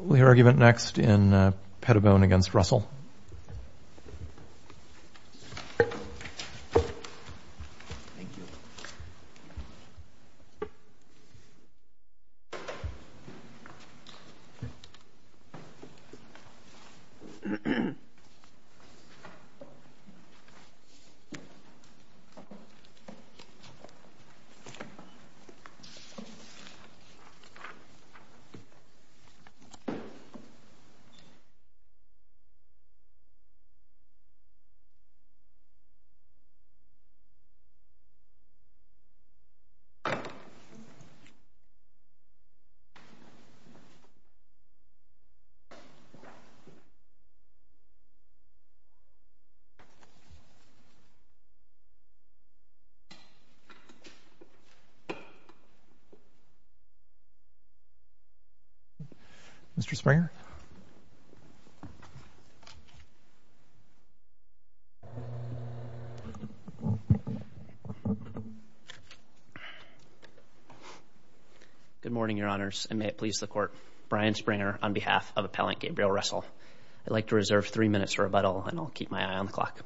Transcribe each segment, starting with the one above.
We hear argument next in Pettibone v. Russell. We hear argument next in Pettibone v. Russell. Mr. Springer. Good morning, Your Honors, and may it please the Court, Brian Springer on behalf of Appellant Gabriel Russell. I'd like to reserve three minutes for rebuttal and I'll keep my eye on the clock.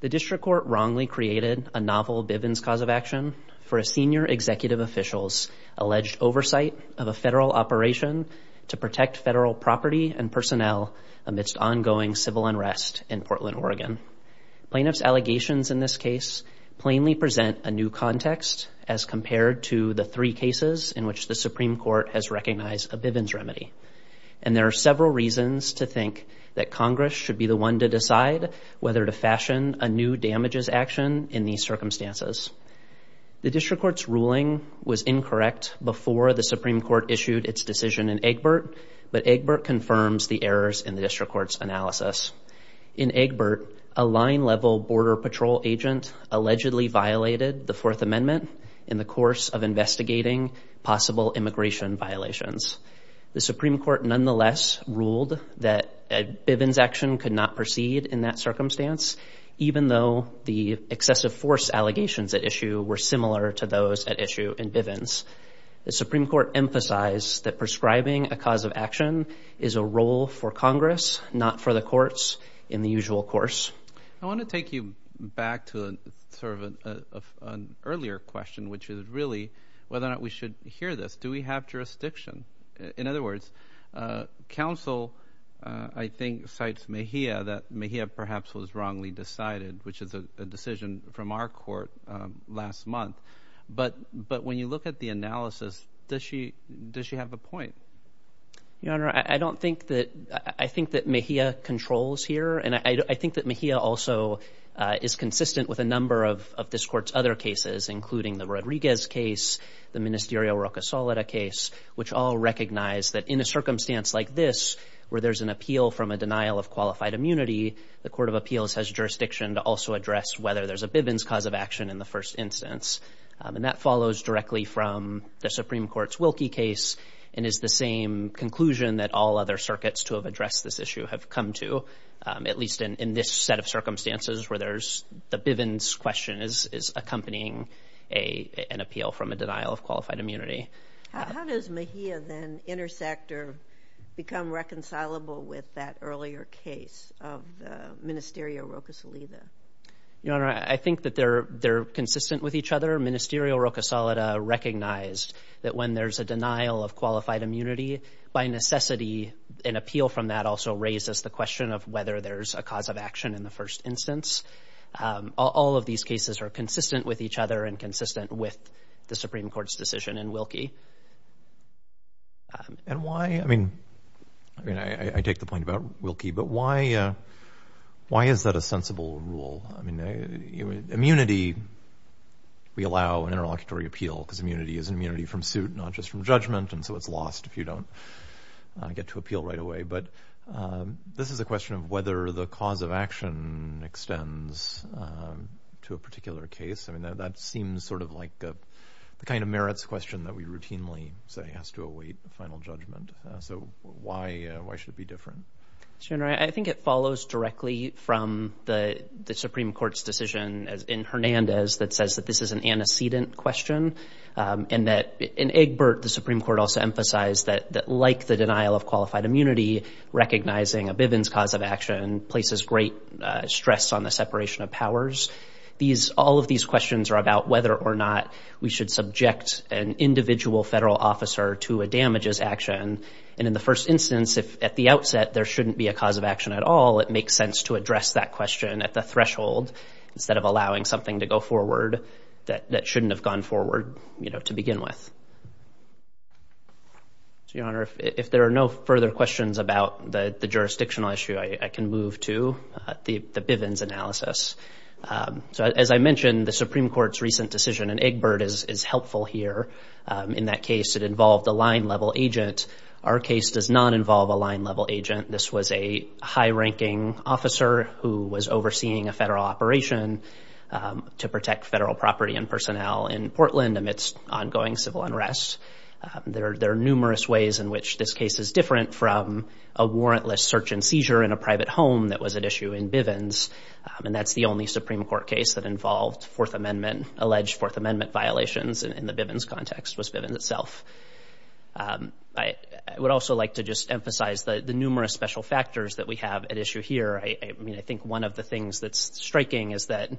The district court wrongly created a novel Bivens cause of action for a senior executive official's alleged oversight of a federal operation to protect federal property and personnel amidst ongoing civil unrest in Portland, Oregon. Plaintiff's allegations in this case plainly present a new context as compared to the three cases in which the Supreme Court has recognized a Bivens remedy. And there are several reasons to think that Congress should be the one to decide whether to fashion a new damages action in these circumstances. The district court's ruling was incorrect before the Supreme Court issued its decision in Egbert, but Egbert confirms the errors in the district court's analysis. In Egbert, a line-level Border Patrol agent allegedly violated the Fourth Amendment in the course of investigating possible immigration violations. The Supreme Court nonetheless ruled that a Bivens action could not proceed in that circumstance even though the excessive force allegations at issue were similar to those at issue in Bivens. The Supreme Court emphasized that prescribing a cause of action is a role for Congress, not for the courts in the usual course. I want to take you back to sort of an earlier question, which is really whether or not we should hear this. Do we have jurisdiction? In other words, counsel, I think, cites Mejia, that Mejia perhaps was wrongly decided, which is a decision from our court last month. But when you look at the analysis, does she have a point? Your Honor, I don't think that – I think that Mejia controls here, and I think that Mejia also is consistent with a number of this court's other cases, including the Rodriguez case, the Ministerio Rocasoleta case, which all recognize that in a circumstance like this, where there's an appeal from a denial of qualified immunity, the Court of Appeals has jurisdiction to also address whether there's a Bivens cause of action in the first instance. And that follows directly from the Supreme Court's Wilkie case and is the same conclusion that all other circuits to have addressed this issue have come to, at least in this set of circumstances where there's the Bivens question is accompanying an appeal from a denial of qualified immunity. How does Mejia then intersect or become reconcilable with that earlier case of the Ministerio Rocasoleta? Your Honor, I think that they're consistent with each other. Ministerio Rocasoleta recognized that when there's a denial of qualified immunity, by necessity an appeal from that also raises the question of whether there's a cause of action in the first instance. All of these cases are consistent with each other and consistent with the Supreme Court's decision in Wilkie. And why, I mean, I take the point about Wilkie, but why is that a sensible rule? I mean, immunity, we allow an interlocutory appeal because immunity is immunity from suit, not just from judgment, and so it's lost if you don't get to appeal right away. But this is a question of whether the cause of action extends to a particular case. I mean, that seems sort of like the kind of merits question that we routinely say has to await a final judgment. So why should it be different? Your Honor, I think it follows directly from the Supreme Court's decision in Hernandez that says that this is an antecedent question and that in Egbert the Supreme Court also emphasized that like the denial of qualified immunity, recognizing a Bivens cause of action places great stress on the separation of powers. All of these questions are about whether or not we should subject an individual federal officer to a damages action. And in the first instance, if at the outset there shouldn't be a cause of action at all, it makes sense to address that question at the threshold instead of allowing something to go forward that shouldn't have gone forward, you know, to begin with. Your Honor, if there are no further questions about the jurisdictional issue, I can move to the Bivens analysis. So as I mentioned, the Supreme Court's recent decision in Egbert is helpful here. In that case, it involved a line-level agent. Our case does not involve a line-level agent. This was a high-ranking officer who was overseeing a federal operation to protect federal property and personnel in Portland amidst ongoing civil unrest. There are numerous ways in which this case is different from a warrantless search and seizure in a private home that was at issue in Bivens, and that's the only Supreme Court case that involved Fourth Amendment, alleged Fourth Amendment violations in the Bivens context was Bivens itself. I would also like to just emphasize the numerous special factors that we have at issue here. I mean, I think one of the things that's striking is that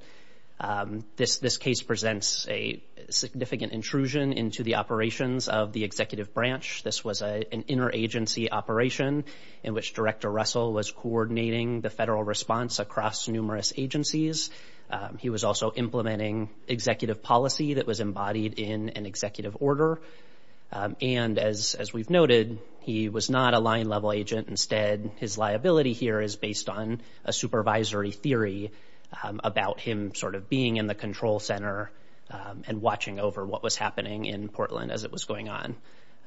this case presents a significant intrusion into the operations of the executive branch. This was an interagency operation in which Director Russell was coordinating the federal response across numerous agencies. He was also implementing executive policy that was embodied in an executive order. And as we've noted, he was not a line-level agent. Instead, his liability here is based on a supervisory theory about him sort of being in the control center and watching over what was happening in Portland as it was going on.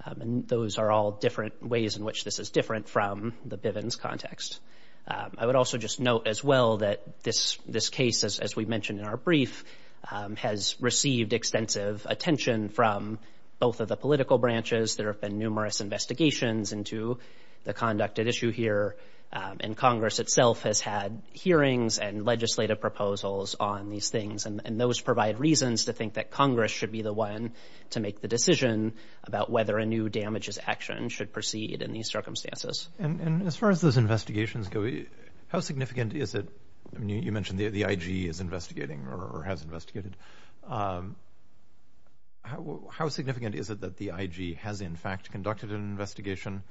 And those are all different ways in which this is different from the Bivens context. I would also just note as well that this case, as we mentioned in our brief, has received extensive attention from both of the political branches. There have been numerous investigations into the conduct at issue here, and Congress itself has had hearings and legislative proposals on these things. And those provide reasons to think that Congress should be the one to make the decision about whether a new damages action should proceed in these circumstances. And as far as those investigations go, how significant is it? You mentioned the IG is investigating or has investigated. How significant is it that the IG has in fact conducted an investigation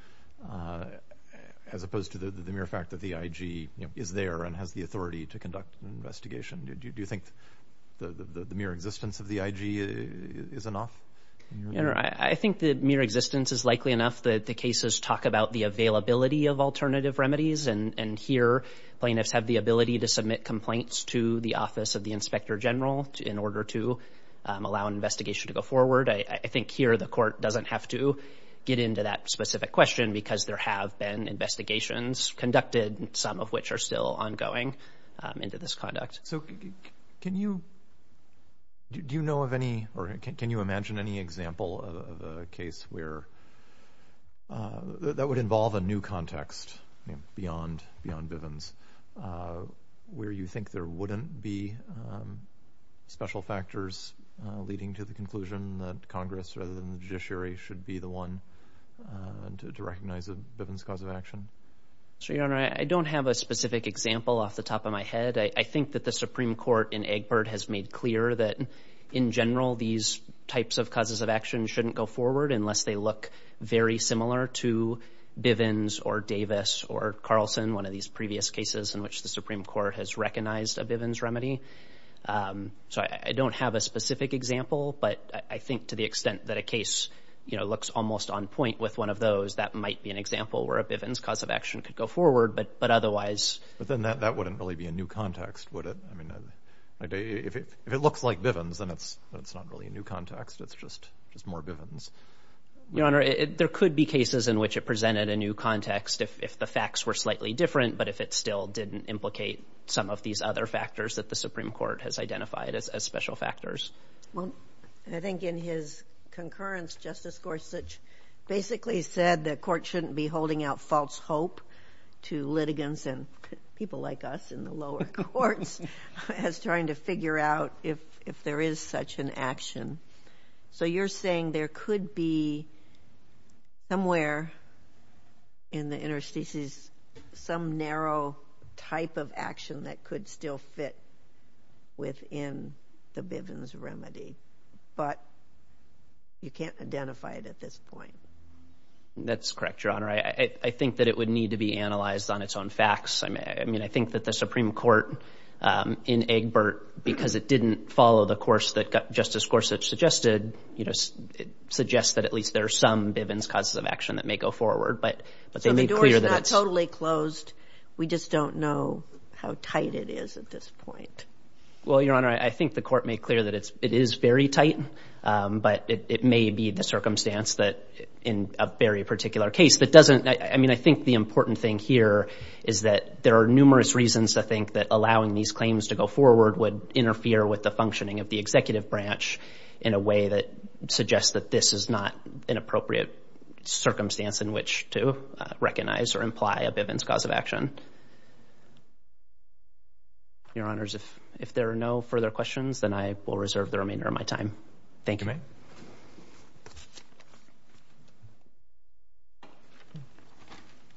as opposed to the mere fact that the IG is there and has the authority to conduct an investigation? Do you think the mere existence of the IG is enough? I think the mere existence is likely enough. The cases talk about the availability of alternative remedies, and here plaintiffs have the ability to submit complaints to the Office of the Inspector General in order to allow an investigation to go forward. I think here the court doesn't have to get into that specific question because there have been investigations conducted, some of which are still ongoing, into this conduct. So can you imagine any example of a case that would involve a new context beyond Bivens where you think there wouldn't be special factors leading to the conclusion that Congress, rather than the judiciary, should be the one to recognize a Bivens cause of action? Your Honor, I don't have a specific example off the top of my head. I think that the Supreme Court in Egbert has made clear that in general these types of causes of action shouldn't go forward unless they look very similar to Bivens or Davis or Carlson, one of these previous cases in which the Supreme Court has recognized a Bivens remedy. So I don't have a specific example, but I think to the extent that a case looks almost on point with one of those, that might be an example where a Bivens cause of action could go forward, but otherwise— But then that wouldn't really be a new context, would it? I mean, if it looks like Bivens, then it's not really a new context. It's just more Bivens. Your Honor, there could be cases in which it presented a new context if the facts were slightly different but if it still didn't implicate some of these other factors that the Supreme Court has identified as special factors. Well, I think in his concurrence, Justice Gorsuch basically said that court shouldn't be holding out false hope to litigants and people like us in the lower courts as trying to figure out if there is such an action. So you're saying there could be somewhere in the interstices some narrow type of action that could still fit within the Bivens remedy, but you can't identify it at this point. That's correct, Your Honor. I think that it would need to be analyzed on its own facts. I mean, I think that the Supreme Court in Egbert, because it didn't follow the course that Justice Gorsuch suggested, suggests that at least there are some Bivens causes of action that may go forward, but they made clear that it's— So the door is not totally closed. We just don't know how tight it is at this point. Well, Your Honor, I think the court made clear that it is very tight, but it may be the circumstance that in a very particular case that doesn't— I mean, I think the important thing here is that there are numerous reasons to think that allowing these claims to go forward would interfere with the functioning of the executive branch in a way that suggests that this is not an appropriate circumstance in which to recognize or imply a Bivens cause of action. Your Honors, if there are no further questions, then I will reserve the remainder of my time. Thank you.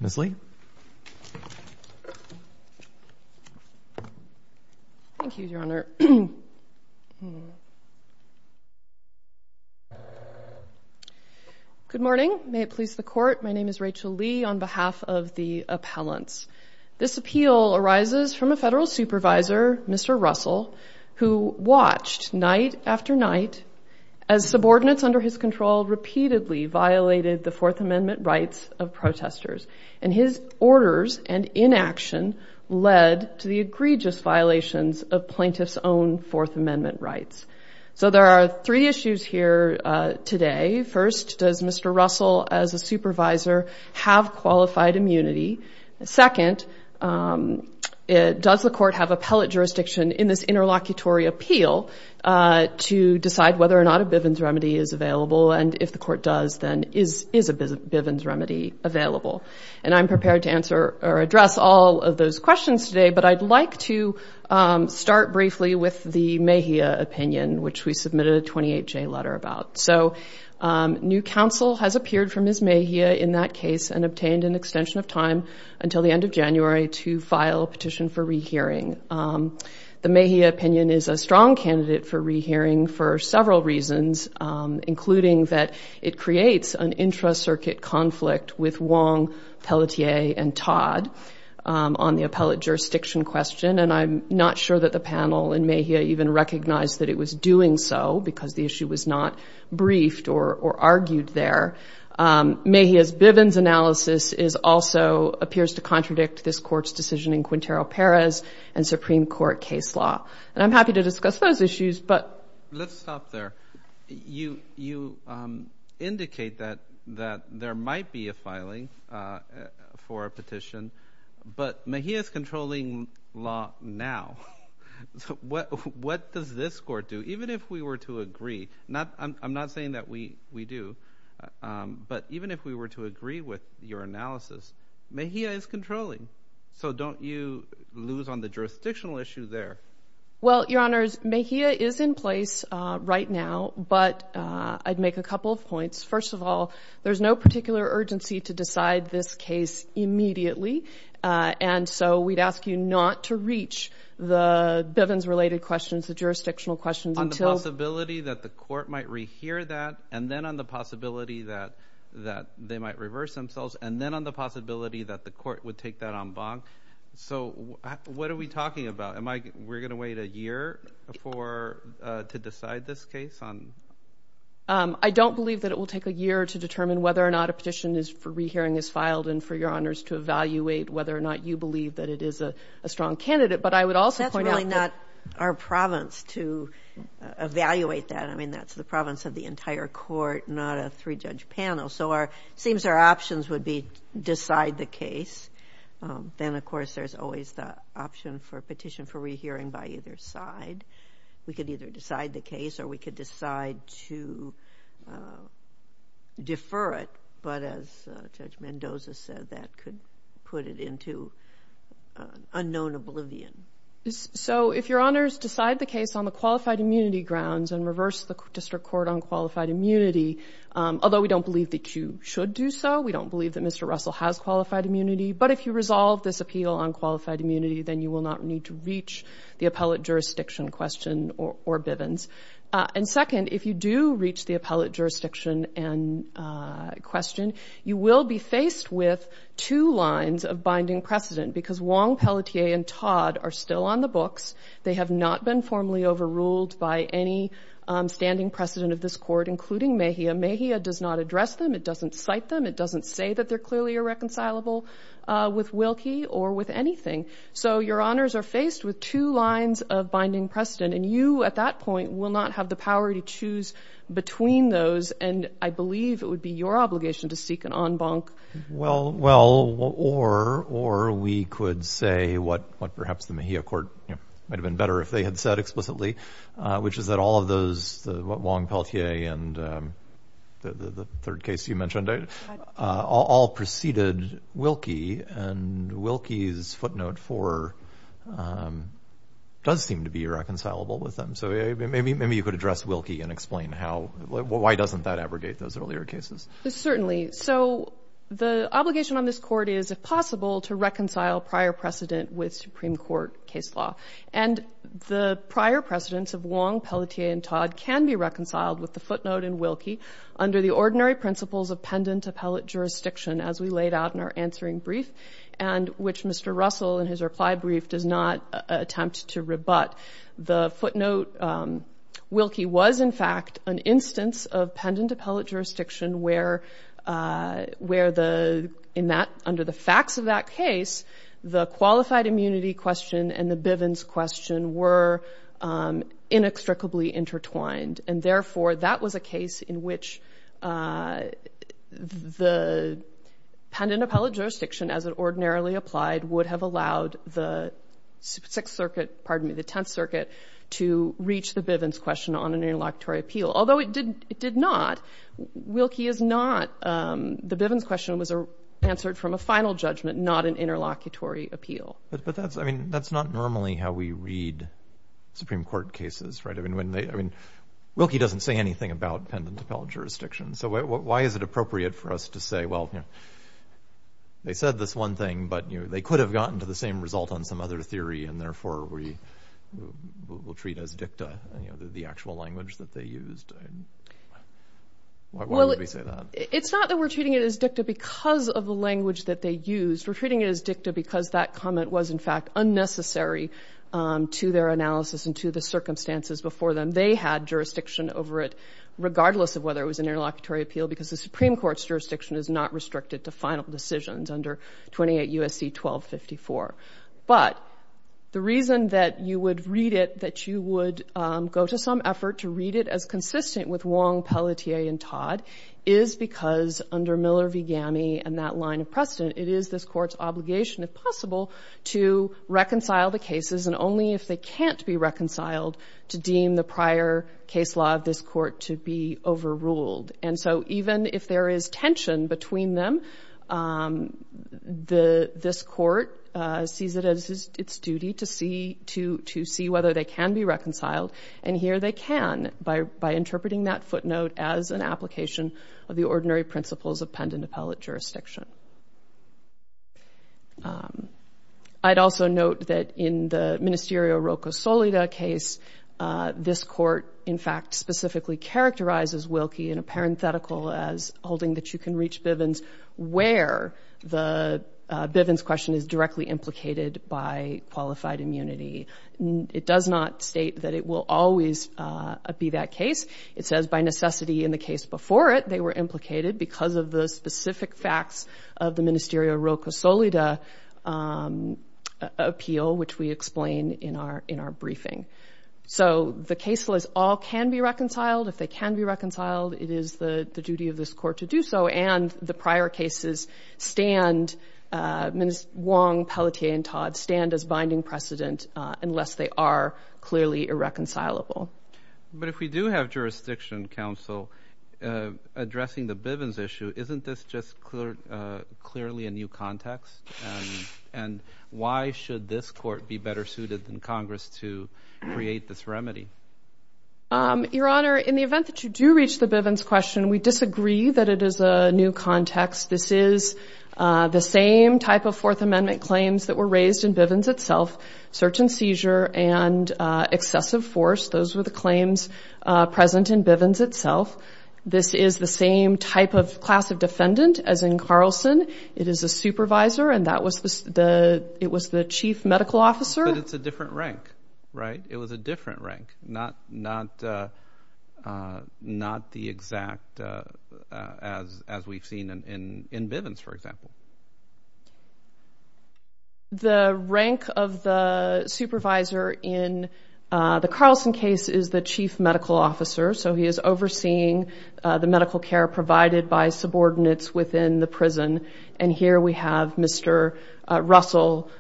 Ms. Lee. Thank you, Your Honor. Good morning. May it please the Court, my name is Rachel Lee on behalf of the appellants. This appeal arises from a federal supervisor, Mr. Russell, who watched night after night as subordinates under his control repeatedly violated the Fourth Amendment rights of protesters, and his orders and inaction led to the egregious violations of plaintiffs' own Fourth Amendment rights. So there are three issues here today. First, does Mr. Russell, as a supervisor, have qualified immunity? Second, does the Court have appellate jurisdiction in this interlocutory appeal to decide whether or not a Bivens remedy is available, and if the Court does, then is a Bivens remedy available? And I'm prepared to answer or address all of those questions today, but I'd like to start briefly with the Mejia opinion, which we submitted a 28-J letter about. So new counsel has appeared from Ms. Mejia in that case and obtained an extension of time until the end of January to file a petition for rehearing. The Mejia opinion is a strong candidate for rehearing for several reasons, including that it creates an intra-circuit conflict with Wong, Pelletier, and Todd on the appellate jurisdiction question, and I'm not sure that the panel in Mejia even recognized that it was doing so because the issue was not briefed or argued there. Mejia's Bivens analysis also appears to contradict this Court's decision in Quintero Perez and Supreme Court case law. And I'm happy to discuss those issues, but... Let's stop there. You indicate that there might be a filing for a petition, but Mejia is controlling law now. What does this Court do? Even if we were to agree, I'm not saying that we do, but even if we were to agree with your analysis, Mejia is controlling, so don't you lose on the jurisdictional issue there? Well, Your Honors, Mejia is in place right now, but I'd make a couple of points. First of all, there's no particular urgency to decide this case immediately, and so we'd ask you not to reach the Bivens-related questions, the jurisdictional questions until... On the possibility that the Court might rehear that, and then on the possibility that they might reverse themselves, and then on the possibility that the Court would take that on Bonk. So what are we talking about? We're going to wait a year to decide this case? I don't believe that it will take a year to determine whether or not a petition for rehearing is filed, and for Your Honors to evaluate whether or not you believe that it is a strong candidate. But I would also point out that... That's really not our province to evaluate that. I mean, that's the province of the entire Court, not a three-judge panel. So it seems our options would be decide the case. Then, of course, there's always the option for a petition for rehearing by either side. We could either decide the case or we could decide to defer it. But as Judge Mendoza said, that could put it into unknown oblivion. So if Your Honors decide the case on the qualified immunity grounds and reverse the District Court on qualified immunity, although we don't believe that you should do so, we don't believe that Mr. Russell has qualified immunity, but if you resolve this appeal on qualified immunity, then you will not need to reach the appellate jurisdiction question or Bivens. And second, if you do reach the appellate jurisdiction question, you will be faced with two lines of binding precedent, because Wong, Pelletier, and Todd are still on the books. They have not been formally overruled by any standing precedent of this Court, including Mejia. Mejia does not address them. It doesn't cite them. It doesn't say that they're clearly irreconcilable with Wilkie or with anything. So Your Honors are faced with two lines of binding precedent, and you at that point will not have the power to choose between those, and I believe it would be your obligation to seek an en banc. Well, or we could say what perhaps the Mejia Court might have been better if they had said explicitly, which is that all of those, Wong, Pelletier, and the third case you mentioned, all preceded Wilkie, and Wilkie's footnote 4 does seem to be irreconcilable with them. So maybe you could address Wilkie and explain why doesn't that abrogate those earlier cases. Certainly. So the obligation on this Court is, if possible, to reconcile prior precedent with Supreme Court case law. And the prior precedents of Wong, Pelletier, and Todd can be reconciled with the footnote in Wilkie under the ordinary principles of pendent appellate jurisdiction, as we laid out in our answering brief, and which Mr. Russell in his reply brief does not attempt to rebut. The footnote Wilkie was, in fact, an instance of pendent appellate jurisdiction where, under the facts of that case, the qualified immunity question and the Bivens question were inextricably intertwined. And therefore, that was a case in which the pendent appellate jurisdiction, as it ordinarily applied, would have allowed the Sixth Circuit, pardon me, the Tenth Circuit, to reach the Bivens question on an interlocutory appeal. Although it did not, Wilkie is not. The Bivens question was answered from a final judgment, not an interlocutory appeal. But that's not normally how we read Supreme Court cases, right? I mean, Wilkie doesn't say anything about pendent appellate jurisdiction. So why is it appropriate for us to say, well, they said this one thing, but they could have gotten to the same result on some other theory, and therefore we'll treat as dicta the actual language that they used? Why would we say that? It's not that we're treating it as dicta because of the language that they used. to their analysis and to the circumstances before them. They had jurisdiction over it, regardless of whether it was an interlocutory appeal, because the Supreme Court's jurisdiction is not restricted to final decisions under 28 U.S.C. 1254. But the reason that you would read it, that you would go to some effort to read it, as consistent with Wong, Pelletier, and Todd, is because under Miller v. Gami and that line of precedent, it is this court's obligation, if possible, to reconcile the cases, and only if they can't be reconciled to deem the prior case law of this court to be overruled. And so even if there is tension between them, this court sees it as its duty to see whether they can be reconciled, and here they can by interpreting that footnote as an application of the ordinary principles of pendant appellate jurisdiction. I'd also note that in the Ministerio Roco-Solida case, this court, in fact, specifically characterizes Wilkie in a parenthetical as holding that you can reach Bivens where the Bivens question is directly implicated by qualified immunity. It does not state that it will always be that case. It says, by necessity, in the case before it, they were implicated because of the specific facts of the Ministerio Roco-Solida appeal, which we explain in our briefing. So the case laws all can be reconciled. If they can be reconciled, it is the duty of this court to do so, and the prior cases, Wong, Pelletier, and Todd, stand as binding precedent unless they are clearly irreconcilable. But if we do have jurisdiction counsel addressing the Bivens issue, isn't this just clearly a new context, and why should this court be better suited than Congress to create this remedy? Your Honor, in the event that you do reach the Bivens question, we disagree that it is a new context. This is the same type of Fourth Amendment claims that were raised in Bivens itself, search and seizure and excessive force. Those were the claims present in Bivens itself. This is the same type of class of defendant as in Carlson. It is a supervisor, and it was the chief medical officer. But it's a different rank, right? It was a different rank, not the exact as we've seen in Bivens, for example. The rank of the supervisor in the Carlson case is the chief medical officer, so he is overseeing the medical care provided by subordinates within the prison. And here we have Mr. Russell,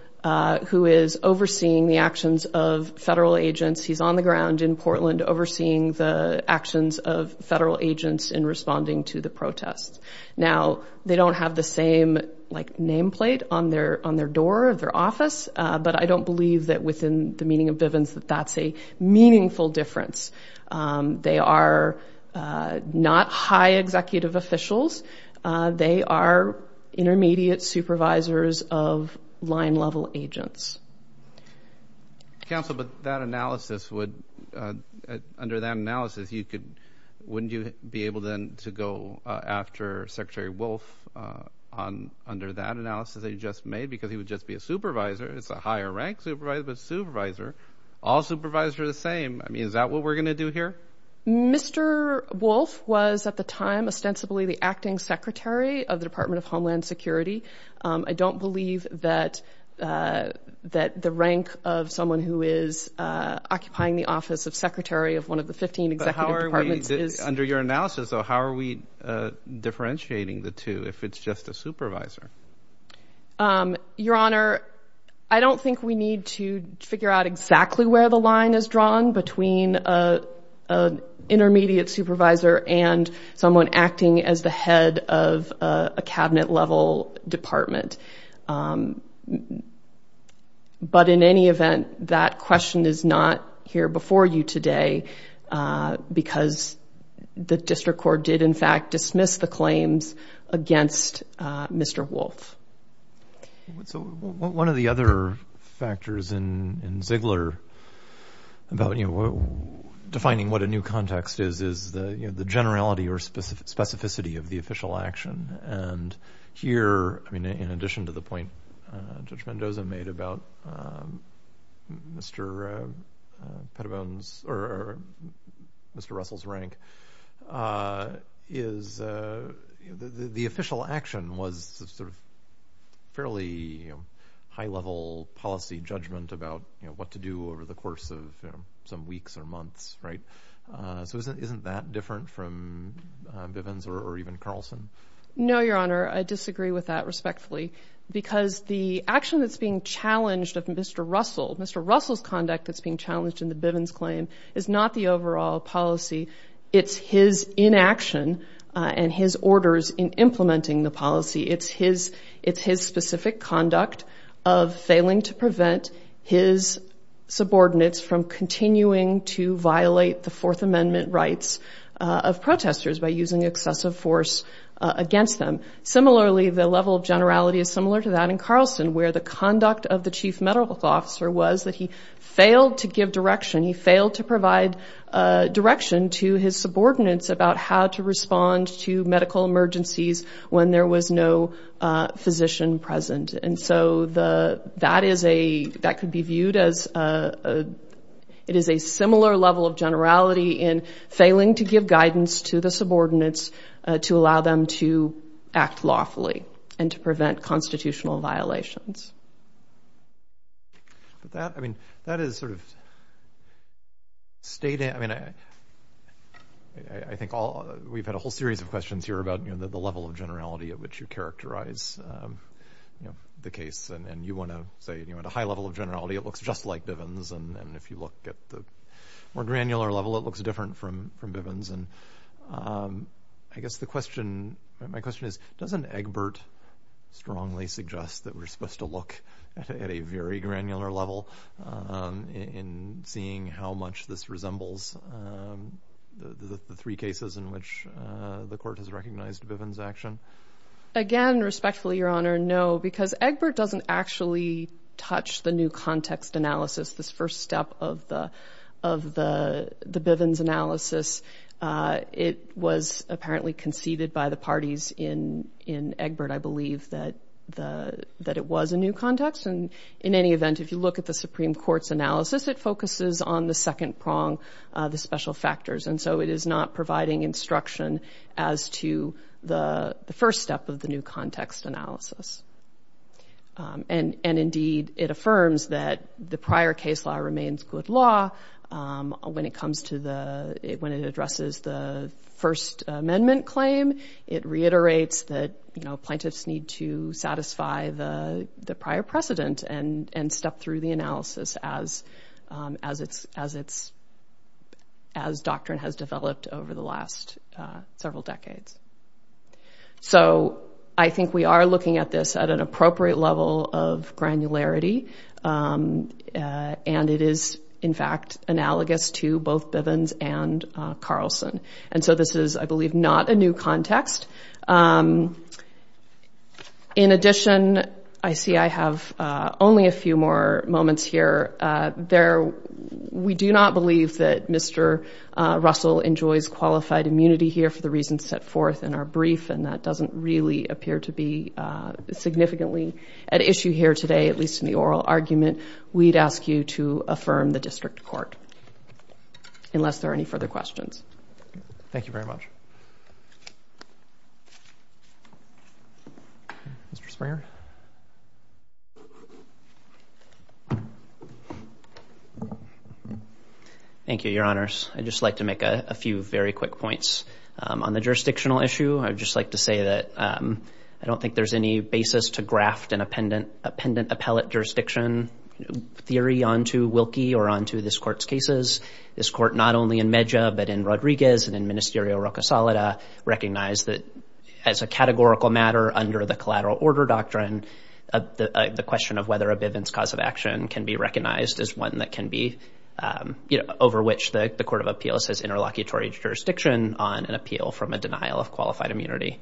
who is overseeing the actions of federal agents. He's on the ground in Portland overseeing the actions of federal agents in responding to the protests. Now, they don't have the same, like, nameplate on their door of their office, but I don't believe that within the meaning of Bivens that that's a meaningful difference. They are not high executive officials. They are intermediate supervisors of line-level agents. Counsel, but that analysis would, under that analysis, wouldn't you be able then to go after Secretary Wolf under that analysis that you just made because he would just be a supervisor? It's a higher rank supervisor, but supervisor, all supervisors are the same. I mean, is that what we're going to do here? Mr. Wolf was at the time ostensibly the acting secretary of the Department of Homeland Security. I don't believe that the rank of someone who is occupying the office of secretary of one of the 15 executive departments is. Under your analysis, though, how are we differentiating the two if it's just a supervisor? Your Honor, I don't think we need to figure out exactly where the line is drawn between an intermediate supervisor and someone acting as the head of a cabinet-level department. But in any event, that question is not here before you today because the district court did, in fact, dismiss the claims against Mr. Wolf. So one of the other factors in Ziegler about defining what a new context is is the generality or specificity of the official action. And here, I mean, in addition to the point Judge Mendoza made about Mr. Pettibone's or Mr. Russell's rank, is the official action was sort of fairly high-level policy judgment about what to do over the course of some weeks or months, right? So isn't that different from Bivens or even Carlson? No, Your Honor. I disagree with that respectfully because the action that's being challenged of Mr. Russell, Mr. Russell's conduct that's being challenged in the Bivens claim is not the overall policy. It's his inaction and his orders in implementing the policy. It's his specific conduct of failing to prevent his subordinates from continuing to violate the Fourth Amendment rights of protesters by using excessive force against them. Similarly, the level of generality is similar to that in Carlson where the conduct of the chief medical officer was that he failed to give direction. He failed to provide direction to his subordinates about how to respond to medical emergencies when there was no physician present. And so that could be viewed as it is a similar level of generality in failing to give guidance to the subordinates to allow them to act lawfully and to prevent constitutional violations. But that, I mean, that is sort of stated. I mean, I think we've had a whole series of questions here about the level of generality at which you characterize the case. And you want to say at a high level of generality it looks just like Bivens. And if you look at the more granular level, it looks different from Bivens. And I guess the question, my question is, doesn't Egbert strongly suggest that we're supposed to look at a very granular level in seeing how much this resembles the three cases in which the court has recognized Bivens' action? Again, respectfully, Your Honor, no, because Egbert doesn't actually touch the new context analysis, this first step of the Bivens analysis. It was apparently conceded by the parties in Egbert, I believe, that it was a new context. And in any event, if you look at the Supreme Court's analysis, it focuses on the second prong, the special factors. And so it is not providing instruction as to the first step of the new context analysis. And, indeed, it affirms that the prior case law remains good law when it comes to the, when it addresses the First Amendment claim. It reiterates that, you know, plaintiffs need to satisfy the prior precedent and step through the analysis as doctrine has developed over the last several decades. So I think we are looking at this at an appropriate level of granularity. And it is, in fact, analogous to both Bivens and Carlson. And so this is, I believe, not a new context. In addition, I see I have only a few more moments here. We do not believe that Mr. Russell enjoys qualified immunity here for the reasons set forth in our brief, and that doesn't really appear to be significantly at issue here today, at least in the oral argument. We'd ask you to affirm the district court, unless there are any further questions. Thank you very much. Mr. Springer. Thank you, Your Honors. I'd just like to make a few very quick points. On the jurisdictional issue, I'd just like to say that I don't think there's any basis to graft an appendant appellate jurisdiction theory onto Wilkie or onto this court's cases. This court, not only in Medja, but in Rodriguez and in Ministerio Rocasolida, recognized that as a categorical matter under the collateral order doctrine, the question of whether a Bivens cause of action can be recognized as one that can be over which the court of appeals has interlocutory jurisdiction on an appeal from a denial of qualified immunity.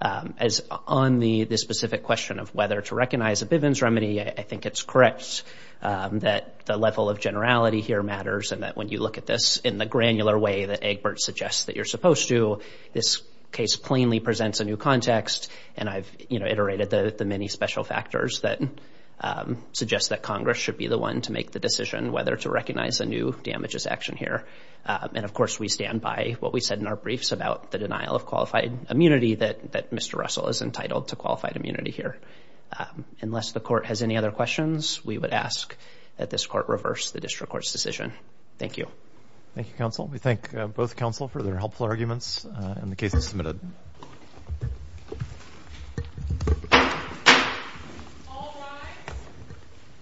As on the specific question of whether to recognize a Bivens remedy, I think it's correct that the level of generality here matters and that when you look at this in the granular way that Egbert suggests that you're supposed to, this case plainly presents a new context, and I've iterated the many special factors that suggest that Congress should be the one to make the decision whether to recognize a new damages action here. And, of course, we stand by what we said in our briefs about the denial of qualified immunity that Mr. Russell is entitled to qualified immunity here. Unless the court has any other questions, we would ask that this court reverse the district court's decision. Thank you. Thank you, counsel. We thank both counsel for their helpful arguments, and the case is submitted.